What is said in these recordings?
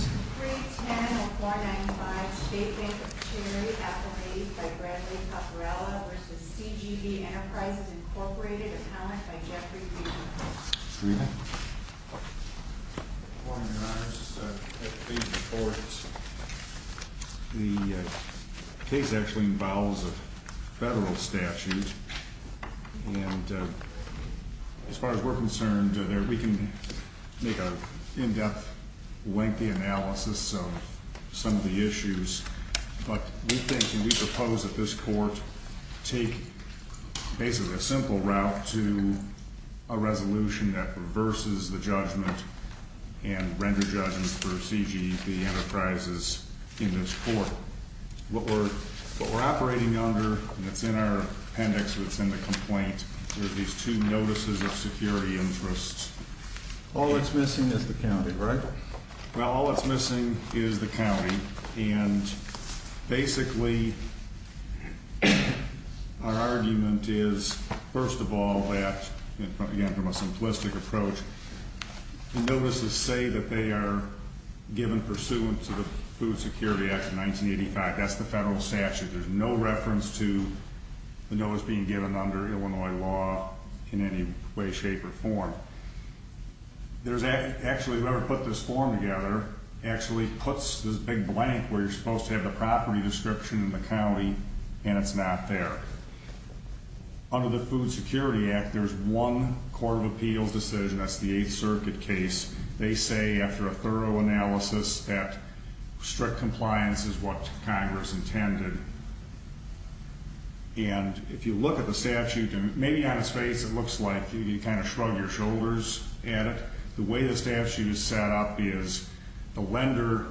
310-495 State Bank of Cherry, affiliated by Bradley Caporella v. CGB Enterprises, Inc. Appellant by Jeffrey B. McClain The case actually involves a federal statute, and as far as we're concerned, we can make an in-depth, lengthy analysis of some of the issues. But we think and we propose that this court take basically a simple route to a resolution that reverses the judgment and render judgment for CGB Enterprises in this court. What we're operating under, and it's in our appendix that's in the complaint, are these two notices of security interests. All that's missing is the county, right? Well, all that's missing is the county, and basically our argument is, first of all, that, again, from a simplistic approach, the notices say that they are given pursuant to the Food Security Act of 1985. That's the federal statute. There's no reference to the notice being given under Illinois law in any way, shape, or form. Actually, whoever put this form together actually puts this big blank where you're supposed to have the property description in the county, and it's not there. Under the Food Security Act, there's one Court of Appeals decision. That's the Eighth Circuit case. They say, after a thorough analysis, that strict compliance is what Congress intended. And if you look at the statute, maybe on its face it looks like you kind of shrug your shoulders at it. The way the statute is set up is the lender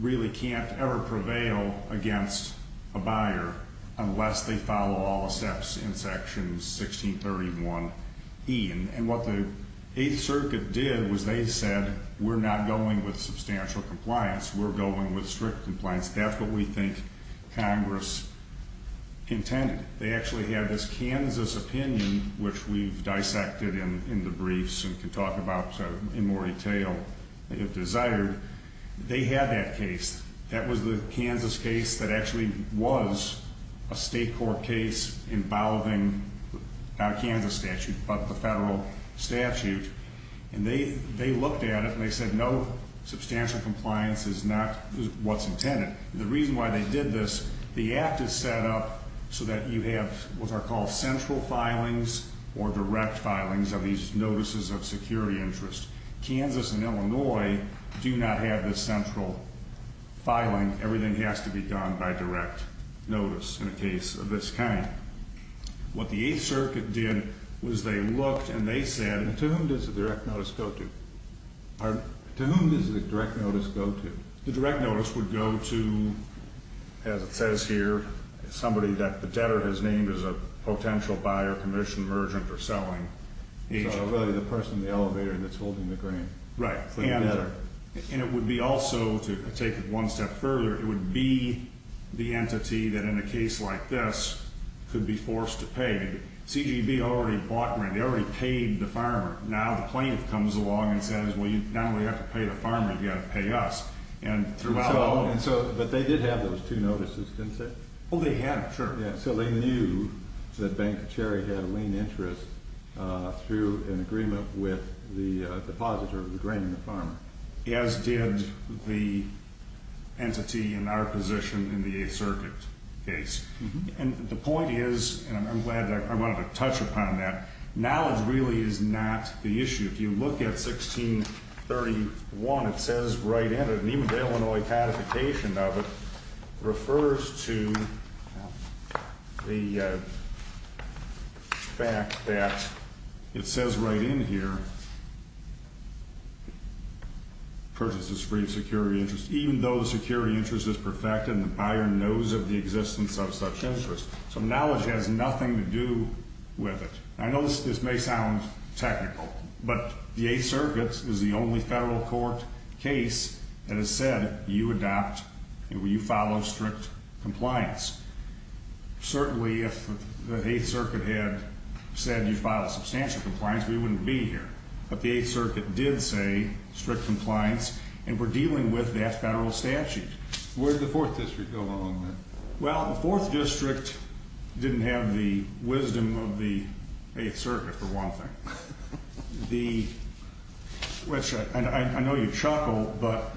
really can't ever prevail against a buyer unless they follow all the steps in Section 1631E. And what the Eighth Circuit did was they said, we're not going with substantial compliance. We're going with strict compliance. That's what we think Congress intended. They actually had this Kansas opinion, which we've dissected in the briefs and can talk about in more detail if desired. They had that case. That was the Kansas case that actually was a state court case involving not a Kansas statute but the federal statute. And they looked at it, and they said, no, substantial compliance is not what's intended. The reason why they did this, the Act is set up so that you have what are called central filings or direct filings of these notices of security interest. Kansas and Illinois do not have this central filing. Everything has to be done by direct notice in a case of this kind. What the Eighth Circuit did was they looked, and they said- To whom does the direct notice go to? To whom does the direct notice go to? The direct notice would go to, as it says here, somebody that the debtor has named as a potential buyer, commission, merchant, or selling agent. So really the person in the elevator that's holding the grain for the debtor. And it would be also, to take it one step further, it would be the entity that in a case like this could be forced to pay. CGB already bought grain. They already paid the farmer. Now the plaintiff comes along and says, well, now we have to pay the farmer. You've got to pay us. But they did have those two notices, didn't they? Oh, they had them, sure. So they knew that Bank of Cherry had a lien interest through an agreement with the depositor of the grain and the farmer. As did the entity in our position in the Eighth Circuit case. And the point is, and I'm glad I wanted to touch upon that, knowledge really is not the issue. If you look at 1631, it says right in it, and even the Illinois codification of it refers to the fact that it says right in here, purchase is free of security interest, even though the security interest is perfected and the buyer knows of the existence of such interest. So knowledge has nothing to do with it. I know this may sound technical, but the Eighth Circuit is the only federal court case that has said you adopt, you follow strict compliance. Certainly if the Eighth Circuit had said you follow substantial compliance, we wouldn't be here. But the Eighth Circuit did say strict compliance, and we're dealing with that federal statute. Where did the Fourth District go along with it? Well, the Fourth District didn't have the wisdom of the Eighth Circuit, for one thing, which I know you chuckle, but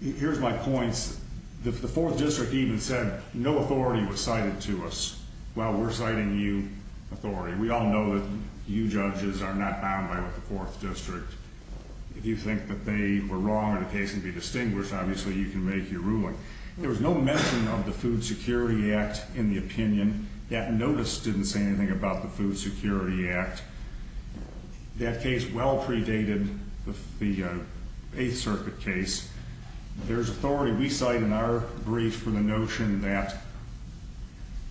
here's my points. The Fourth District even said no authority was cited to us while we're citing you authority. We all know that you judges are not bound by what the Fourth District, if you think that they were wrong or the case can be distinguished, obviously you can make your ruling. There was no mention of the Food Security Act in the opinion. That notice didn't say anything about the Food Security Act. That case well predated the Eighth Circuit case. There's authority we cite in our brief for the notion that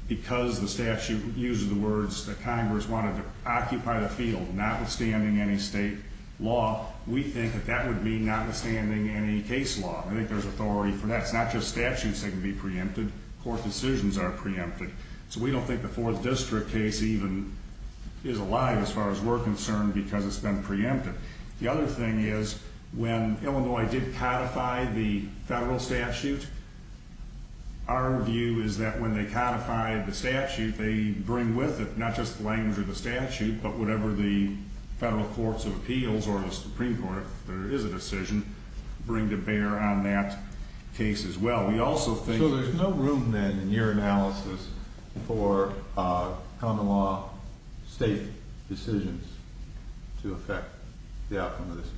because the statute uses the words that Congress wanted to occupy the field notwithstanding any state law, we think that that would mean notwithstanding any case law. I think there's authority for that. It's not just statutes that can be preempted. Court decisions are preempted. So we don't think the Fourth District case even is alive as far as we're concerned because it's been preempted. The other thing is when Illinois did codify the federal statute, our view is that when they codified the statute, they bring with it not just the language of the statute, but whatever the federal courts of appeals or the Supreme Court, if there is a decision, bring to bear on that case as well. We also think- So there's no room then in your analysis for common law state decisions to affect the outcome of this case?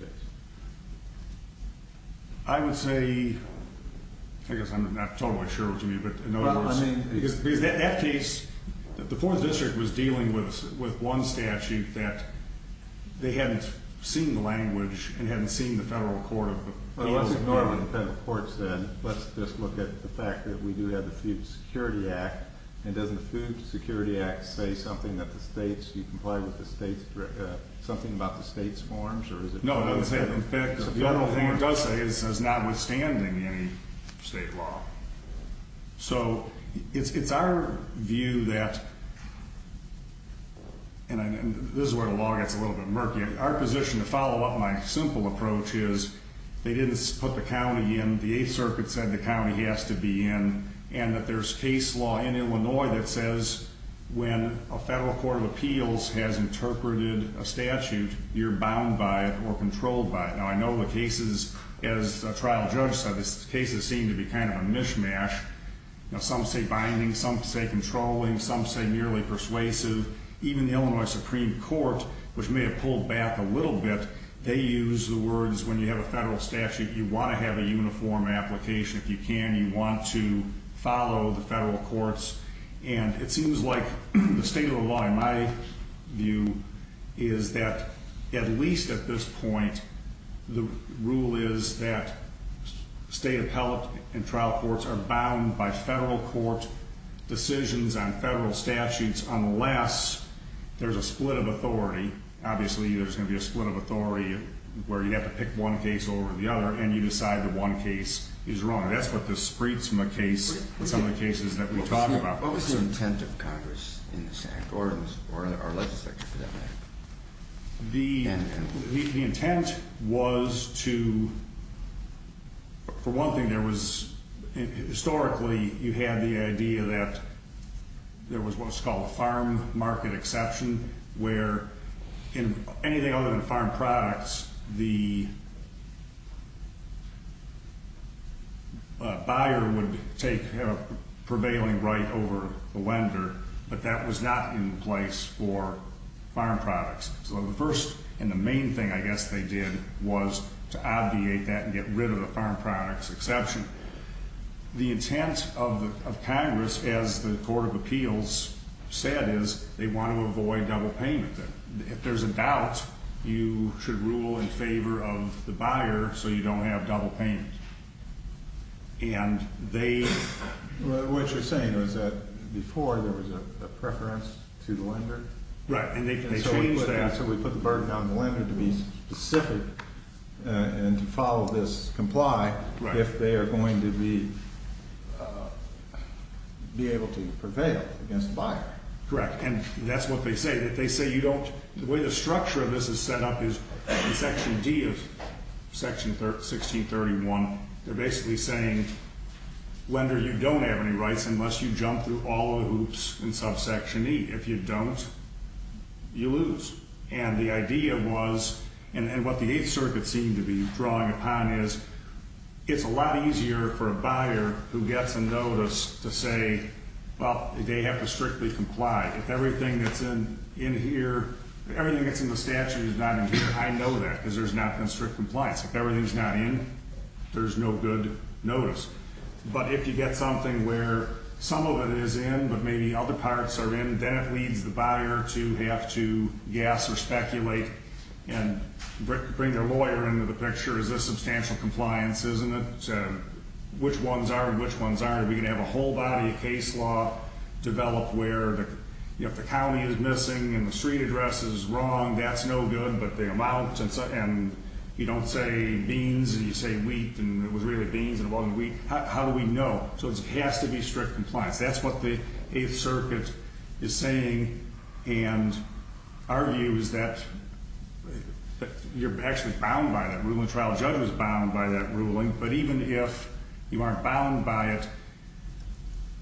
I would say, I guess I'm not totally sure what you mean, but in other words- Well, I mean- Because that case, the Fourth District was dealing with one statute that they hadn't seen the language and hadn't seen the federal court of appeals- Well, let's ignore what the federal courts said. Let's just look at the fact that we do have the Food Security Act. And doesn't the Food Security Act say something that the states, do you comply with the states, something about the states' forms or is it- No, it doesn't say it. In fact, the only thing it does say is it's not withstanding any state law. So it's our view that, and this is where the law gets a little bit murky. Our position to follow up my simple approach is they didn't put the county in, the Eighth Circuit said the county has to be in, and that there's case law in Illinois that says when a federal court of appeals has interpreted a statute, you're bound by it or controlled by it. Now, I know the cases, as a trial judge said, the cases seem to be kind of a mishmash. Now, some say binding, some say controlling, some say merely persuasive. Even the Illinois Supreme Court, which may have pulled back a little bit, they use the words when you have a federal statute, you want to have a uniform application. If you can, you want to follow the federal courts, and it seems like the state of the law, in my view, is that at least at this point, the rule is that state appellate and trial courts are bound by federal court decisions on federal statutes unless there's a split of authority. Obviously, there's going to be a split of authority where you have to pick one case over the other, and you decide that one case is wrong. That's what the spritzma case, some of the cases that we talk about. What was the intent of Congress in this act, or our legislature for that matter? The intent was to, for one thing, there was, historically, you had the idea that there was what's called a farm market exception, where anything other than farm products, the buyer would take prevailing right over the lender, but that was not in place for farm products. So the first and the main thing, I guess, they did was to obviate that and get rid of the farm products exception. The intent of Congress, as the Court of Appeals said, is they want to avoid double payment. If there's a doubt, you should rule in favor of the buyer so you don't have double payment. What you're saying is that before, there was a preference to the lender? Right, and they changed that. Right, so we put the burden on the lender to be specific and to follow this, comply, if they are going to be able to prevail against the buyer. Correct, and that's what they say. They say you don't, the way the structure of this is set up is in Section D of Section 1631, they're basically saying, lender, you don't have any rights unless you jump through all the hoops in subsection E. If you don't, you lose. And the idea was, and what the Eighth Circuit seemed to be drawing upon is, it's a lot easier for a buyer who gets a notice to say, well, they have to strictly comply. If everything that's in here, everything that's in the statute is not in here, I know that because there's not been strict compliance. If everything's not in, there's no good notice. But if you get something where some of it is in, but maybe other parts are in, then it leads the buyer to have to guess or speculate and bring their lawyer into the picture. Is this substantial compliance? Isn't it? Which ones are and which ones aren't? Are we going to have a whole body of case law developed where if the county is missing and the street address is wrong, that's no good. But the amount and you don't say beans and you say wheat and it was really beans and it wasn't wheat. How do we know? So it has to be strict compliance. That's what the Eighth Circuit is saying and argues that you're actually bound by that ruling. The trial judge was bound by that ruling. But even if you aren't bound by it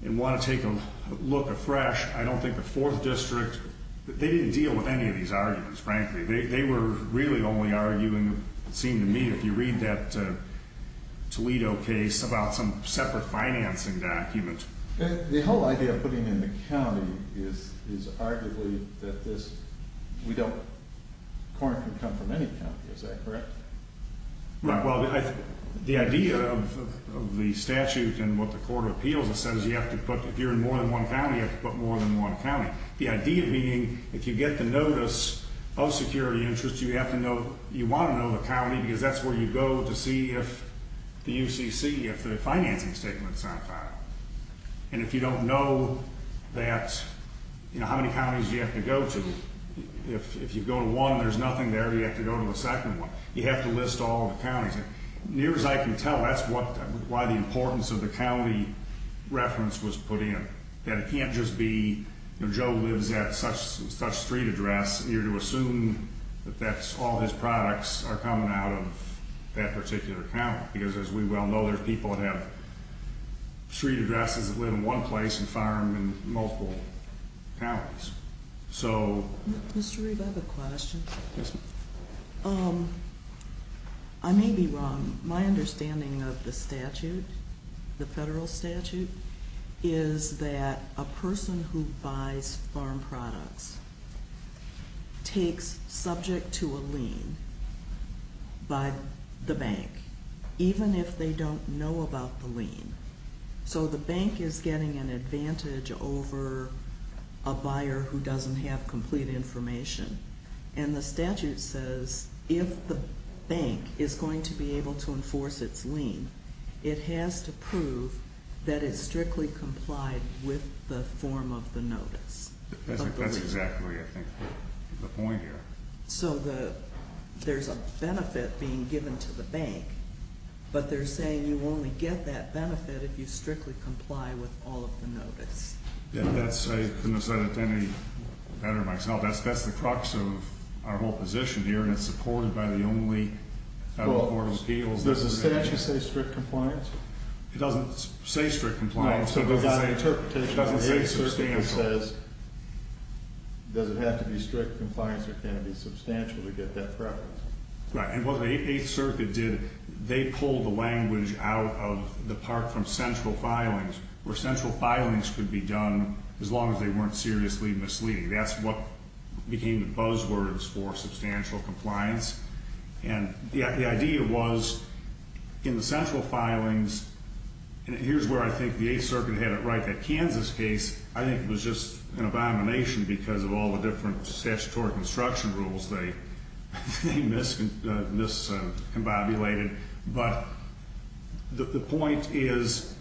and want to take a look afresh, I don't think the Fourth District, they didn't deal with any of these arguments, frankly. They were really only arguing, it seemed to me, if you read that Toledo case about some separate financing document. The whole idea of putting in the county is arguably that this, we don't, corn can come from any county. Is that correct? Right. Well, the idea of the statute and what the Court of Appeals says, you have to put, if you're in more than one county, you have to put more than one county. The idea being if you get the notice of security interest, you have to know, you want to know the county because that's where you go to see if the UCC, if the financing statement is on file. And if you don't know that, you know, how many counties do you have to go to? If you go to one and there's nothing there, you have to go to the second one. Near as I can tell, that's why the importance of the county reference was put in. That it can't just be Joe lives at such street address and you're to assume that that's all his products are coming out of that particular county. Because as we well know, there's people that have street addresses that live in one place and farm in multiple counties. So- Mr. Reed, I have a question. Yes, ma'am. I may be wrong. My understanding of the statute, the federal statute, is that a person who buys farm products takes subject to a lien by the bank, even if they don't know about the lien. So the bank is getting an advantage over a buyer who doesn't have complete information. And the statute says if the bank is going to be able to enforce its lien, it has to prove that it strictly complied with the form of the notice. That's exactly, I think, the point here. So there's a benefit being given to the bank, but they're saying you only get that benefit if you strictly comply with all of the notice. I couldn't have said it any better myself. That's the crux of our whole position here, and it's supported by the only federal court of appeals. Does the statute say strict compliance? It doesn't say strict compliance. No. It doesn't say substantial. Does it have to be strict compliance or can it be substantial to get that preference? Right. And what the Eighth Circuit did, they pulled the language out of the part from central filings, where central filings could be done as long as they weren't seriously misleading. That's what became the buzzwords for substantial compliance. And the idea was in the central filings, and here's where I think the Eighth Circuit had it right. That Kansas case, I think, was just an abomination because of all the different statutory construction rules they miscombobulated. But the point is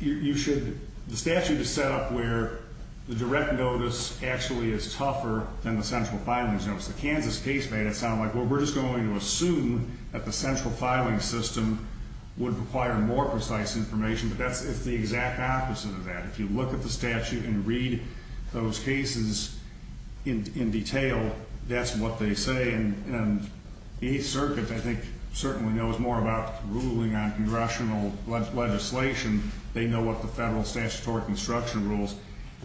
the statute is set up where the direct notice actually is tougher than the central filings. The Kansas case made it sound like, well, we're just going to assume that the central filing system would require more precise information. But that's the exact opposite of that. If you look at the statute and read those cases in detail, that's what they say. And the Eighth Circuit, I think, certainly knows more about ruling on congressional legislation. They know what the federal statutory construction rules.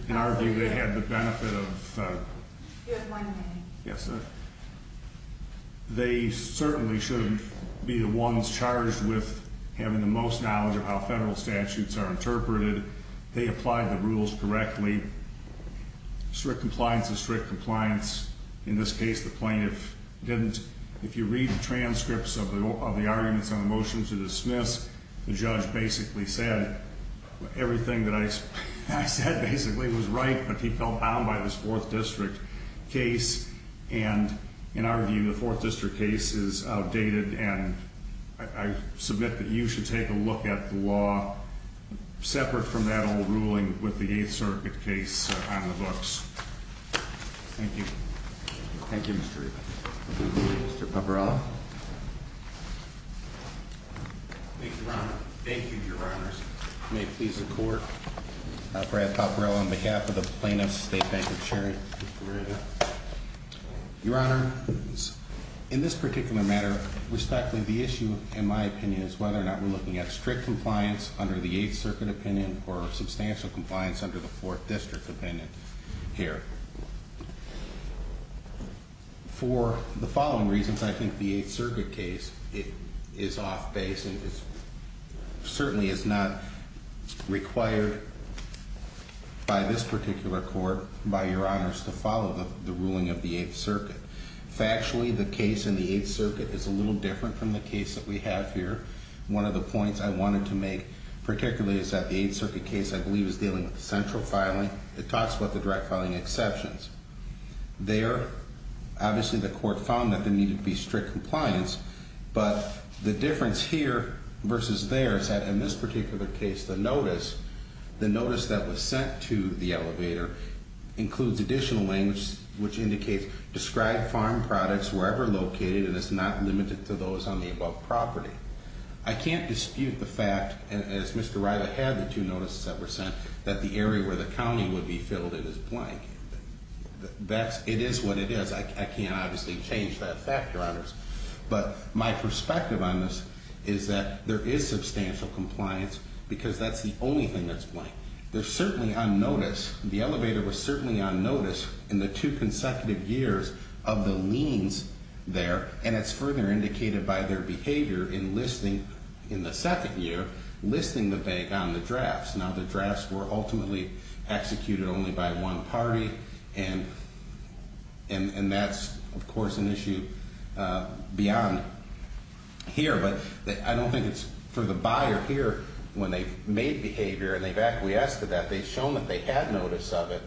In our view, they had the benefit of... You have one minute. Yes, sir. They certainly shouldn't be the ones charged with having the most knowledge of how federal statutes are interpreted. They applied the rules correctly. Strict compliance is strict compliance. In this case, the plaintiff didn't. If you read the transcripts of the arguments on the motion to dismiss, the judge basically said everything that I said basically was right. But he felt bound by this Fourth District case. And in our view, the Fourth District case is outdated. And I submit that you should take a look at the law separate from that old ruling with the Eighth Circuit case on the books. Thank you. Thank you, Mr. Riva. Mr. Paparella. Thank you, Your Honors. May it please the Court. Brad Paparella on behalf of the Plaintiff's State Bank Insurance. Your Honor, in this particular matter, respectfully, the issue, in my opinion, is whether or not we're looking at strict compliance under the Eighth Circuit opinion or substantial compliance under the Fourth District opinion here. For the following reasons, I think the Eighth Circuit case is off-base. It certainly is not required by this particular Court, by Your Honors, to follow the ruling of the Eighth Circuit. Factually, the case in the Eighth Circuit is a little different from the case that we have here. One of the points I wanted to make particularly is that the Eighth Circuit case, I believe, is dealing with central filing. It talks about the direct filing exceptions. There, obviously, the Court found that there needed to be strict compliance. But the difference here versus there is that in this particular case, the notice, the notice that was sent to the elevator, includes additional language which indicates, describe farm products wherever located, and it's not limited to those on the above property. I can't dispute the fact, as Mr. Riley had the two notices that were sent, that the area where the county would be filled in is blank. It is what it is. I can't, obviously, change that fact, Your Honors. But my perspective on this is that there is substantial compliance because that's the only thing that's blank. They're certainly on notice. The elevator was certainly on notice in the two consecutive years of the liens there, and it's further indicated by their behavior in listing, in the second year, listing the bank on the drafts. Now, the drafts were ultimately executed only by one party, and that's, of course, an issue beyond here. But I don't think it's for the buyer here, when they've made behavior and they've acquiesced to that, they've shown that they had notice of it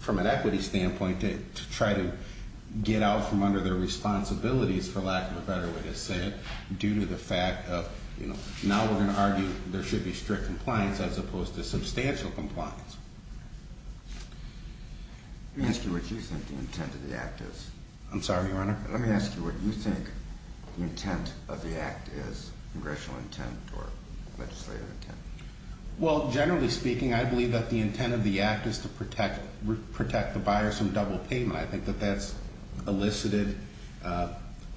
from an equity standpoint to try to get out from under their responsibilities, for lack of a better way to say it, due to the fact of, you know, now we're going to argue there should be strict compliance as opposed to substantial compliance. Let me ask you what you think the intent of the act is. I'm sorry, Your Honor? Let me ask you what you think the intent of the act is, congressional intent or legislative intent. Well, generally speaking, I believe that the intent of the act is to protect the buyers from double payment. I think that that's elicited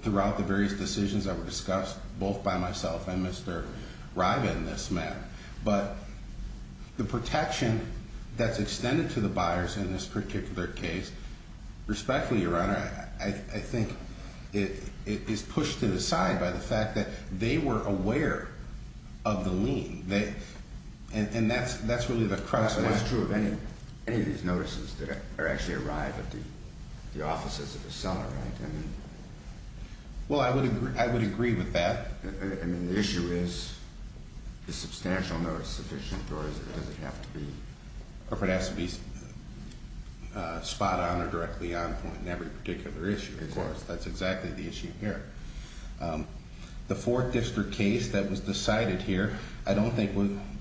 throughout the various decisions that were discussed both by myself and Mr. Riva in this matter. But the protection that's extended to the buyers in this particular case, respectfully, Your Honor, I think it is pushed to the side by the fact that they were aware of the lien. And that's really the crux of it. But that's true of any of these notices that actually arrive at the offices of the seller, right? Well, I would agree with that. I mean, the issue is, is substantial notice sufficient or does it have to be? Spot on or directly on point in every particular issue. Of course, that's exactly the issue here. The fourth district case that was decided here, I don't think,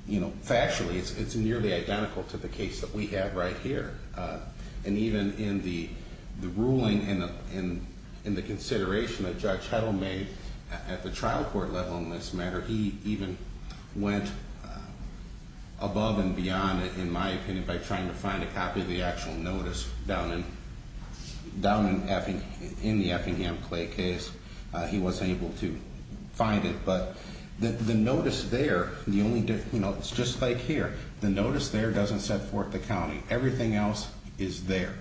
you know, factually, it's nearly identical to the case that we have right here. And even in the ruling and in the consideration that Judge Heddle made at the trial court level in this matter, he even went above and beyond, in my opinion, by trying to find a copy of the actual notice down in the Effingham Clay case. He wasn't able to find it. But the notice there, you know, it's just like here. The notice there doesn't set forth the county. Everything else is there.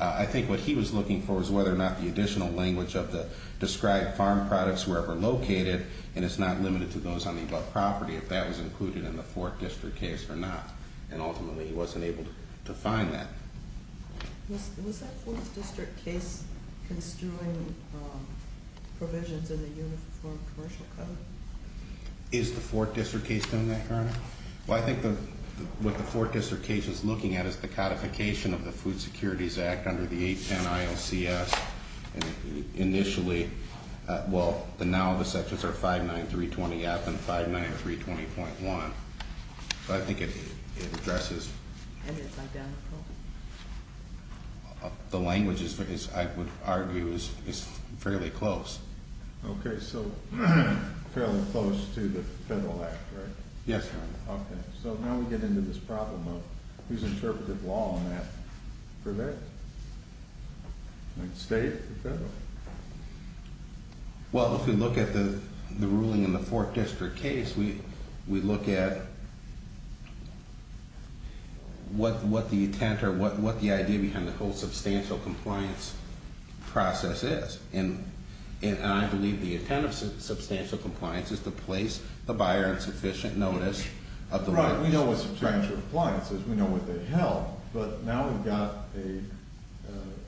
I think what he was looking for was whether or not the additional language of the described farm products were ever located, and it's not limited to those on the above property, if that was included in the fourth district case or not. And ultimately, he wasn't able to find that. Was that fourth district case construing provisions in the Uniform Commercial Code? Well, I think what the fourth district case is looking at is the codification of the Food Securities Act under the 810 ILCS. And initially, well, now the sections are 59320F and 59320.1. So I think it addresses. And it's identical? The language, I would argue, is fairly close. Okay, so fairly close to the federal act, right? Yes, Your Honor. Okay, so now we get into this problem of who's interpreted law on that for that? State or federal? Well, if we look at the ruling in the fourth district case, we look at what the intent or what the idea behind the whole substantial compliance process is. And I believe the intent of substantial compliance is to place the buyer in sufficient notice of the violation. Right, we know what substantial compliance is. We know what they held. But now we've got an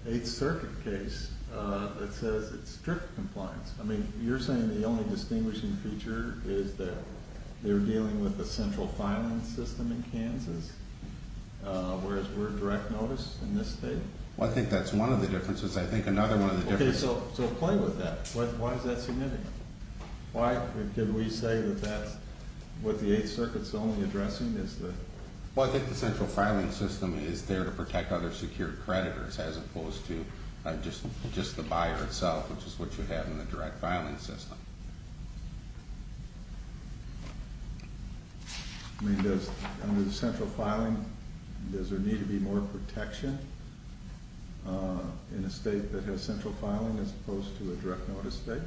Eighth Circuit case that says it's strict compliance. I mean, you're saying the only distinguishing feature is that they're dealing with the central filing system in Kansas, whereas we're direct notice in this state? Well, I think that's one of the differences. Okay, so play with that. Why is that significant? Why did we say that that's what the Eighth Circuit's only addressing? Well, I think the central filing system is there to protect other secured creditors as opposed to just the buyer itself, which is what you have in the direct filing system. I mean, does under the central filing, does there need to be more protection in a state that has central filing as opposed to a direct notice state?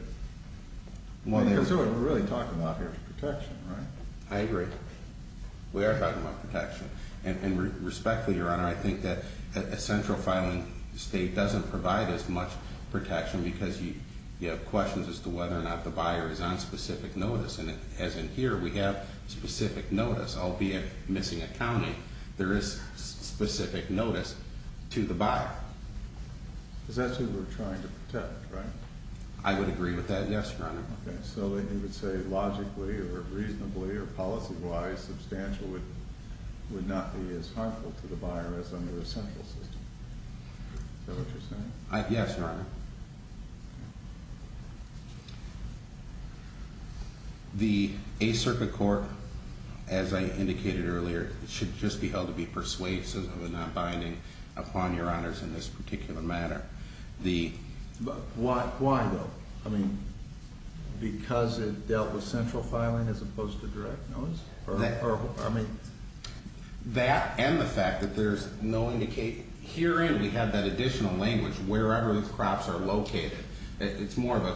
Because that's what we're really talking about here is protection, right? I agree. We are talking about protection. And respectfully, Your Honor, I think that a central filing state doesn't provide as much protection because you have questions as to whether or not the buyer is on specific notice. And as in here, we have specific notice, albeit missing accounting. There is specific notice to the buyer. Because that's who we're trying to protect, right? I would agree with that, yes, Your Honor. Okay, so then you would say logically or reasonably or policy-wise, substantial would not be as harmful to the buyer as under a central system. Is that what you're saying? Yes, Your Honor. The Eighth Circuit Court, as I indicated earlier, should just be held to be persuasive and not binding upon Your Honors in this particular matter. Why, though? I mean, because it dealt with central filing as opposed to direct notice? That and the fact that there's no indication. Herein, we have that additional language wherever the crops are located. It's more of a,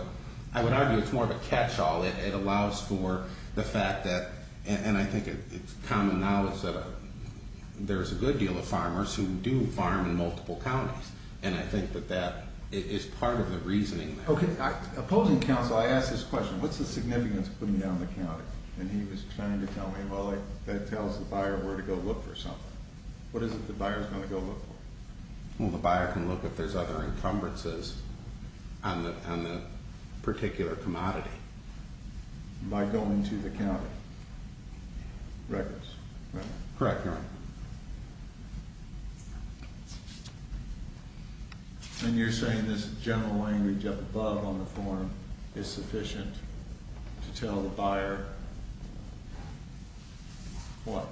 I would argue it's more of a catch-all. It allows for the fact that, and I think it's common knowledge that there's a good deal of farmers who do farm in multiple counties. And I think that that is part of the reasoning. Okay, opposing counsel, I ask this question. What's the significance of putting down the county? And he was trying to tell me, well, that tells the buyer where to go look for something. What is it the buyer's going to go look for? Well, the buyer can look if there's other encumbrances on the particular commodity. By going to the county records? Correct, Your Honor. And you're saying this general language up above on the form is sufficient to tell the buyer what?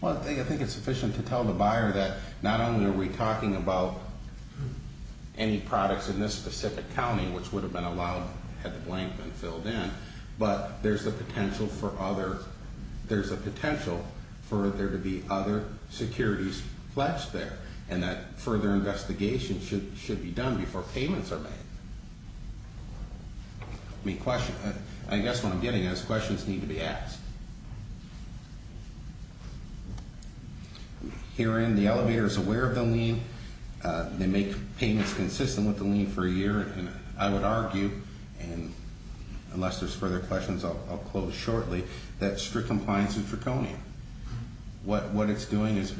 Well, I think it's sufficient to tell the buyer that not only are we talking about any products in this specific county, which would have been allowed had the blank been filled in, but there's a potential for other, there's a potential for there to be other securities pledged there. And that further investigation should be done before payments are made. I mean, I guess what I'm getting at is questions need to be asked. Herein, the elevator is aware of the lien. They make payments consistent with the lien for a year. And I would argue, and unless there's further questions, I'll close shortly, that strict compliance is draconian. What it's doing is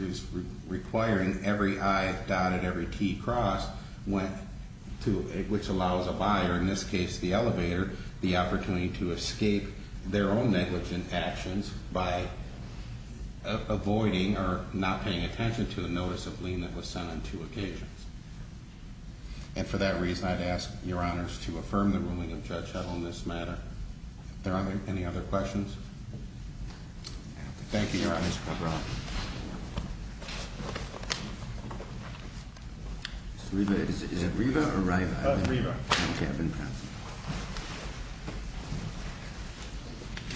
requiring every I dotted, every T crossed, which allows a buyer, in this case, the elevator, the opportunity to escape their own negligent actions by avoiding or not paying attention to the notice of lien that was sent on two occasions. And for that reason, I'd ask Your Honors to affirm the ruling of Judge Howell in this matter. Are there any other questions? Thank you, Your Honors. Is it Riva or Riva? Riva.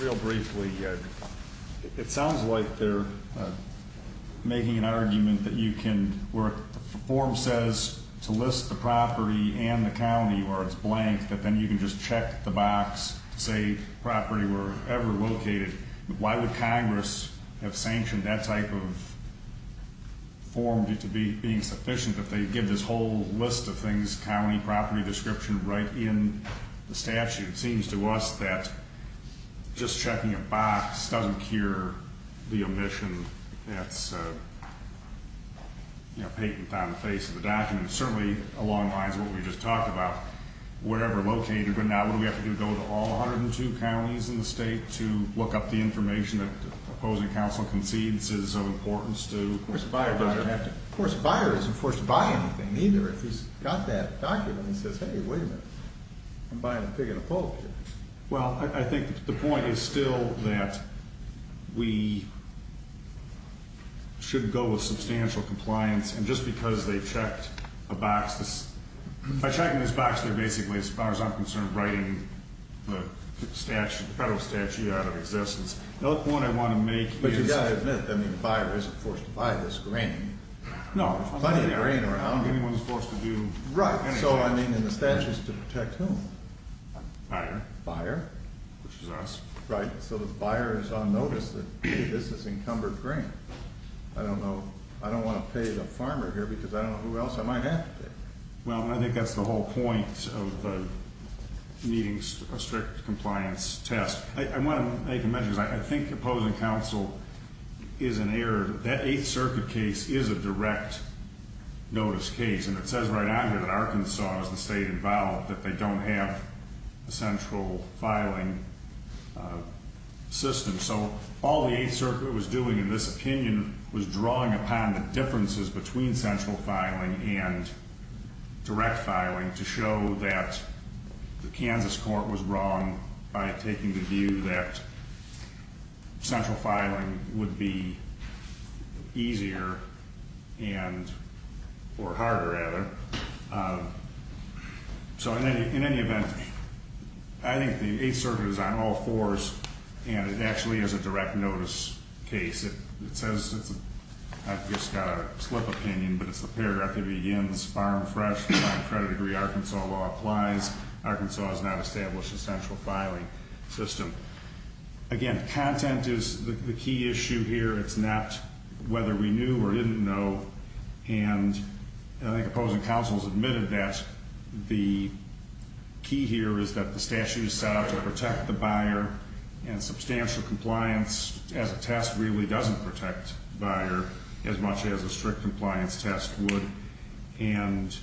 Real briefly, it sounds like they're making an argument that you can, where the form says to list the property and the county where it's blank, that then you can just check the box to say property wherever located. Why would Congress have sanctioned that type of form being sufficient if they give this whole list of things, county, property description, right in the statute? It seems to us that just checking a box doesn't cure the omission that's patent on the face of the document. Certainly, along the lines of what we just talked about, wherever located. But now, what do we have to do? Go to all 102 counties in the state to look up the information that the opposing counsel concedes is of importance to? Of course, a buyer doesn't have to. Of course, a buyer isn't forced to buy anything, either. If he's got that document, he says, hey, wait a minute, I'm buying a pig and a poultry. Well, I think the point is still that we should go with substantial compliance. And just because they checked a box, by checking this box, they're basically, as far as I'm concerned, writing the federal statute out of existence. The other point I want to make is. But you've got to admit, the buyer isn't forced to buy this grain. No. There's plenty of grain around. Anyone is forced to do anything. Right. So, I mean, in the statute, it's to protect whom? Buyer. Buyer. Which is us. Right. So the buyer is on notice that, hey, this is encumbered grain. I don't know. I don't want to pay the farmer here because I don't know who else I might have to pay. Well, I think that's the whole point of meeting a strict compliance test. I want to make a mention. I think opposing counsel is an error. That Eighth Circuit case is a direct notice case. And it says right on here that Arkansas is the state involved, that they don't have a central filing system. So, all the Eighth Circuit was doing in this opinion was drawing upon the differences between central filing and direct filing to show that the Kansas court was wrong by taking the view that central filing would be easier and, or harder, rather. So, in any event, I think the Eighth Circuit is on all fours, and it actually is a direct notice case. It says, I've just got a slip opinion, but it's the paragraph that begins, Farm Fresh, Farm Credit Agree, Arkansas law applies. Arkansas has not established a central filing system. Again, content is the key issue here. It's not whether we knew or didn't know. And I think opposing counsel has admitted that the key here is that the statute is set out to protect the buyer, and substantial compliance as a test really doesn't protect the buyer as much as a strict compliance test would. And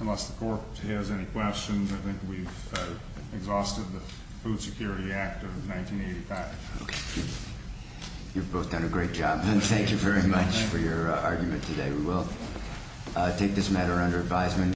unless the court has any questions, I think we've exhausted the Food Security Act of 1985. Okay. You've both done a great job. Thank you very much for your argument today. We will take this matter under advisement.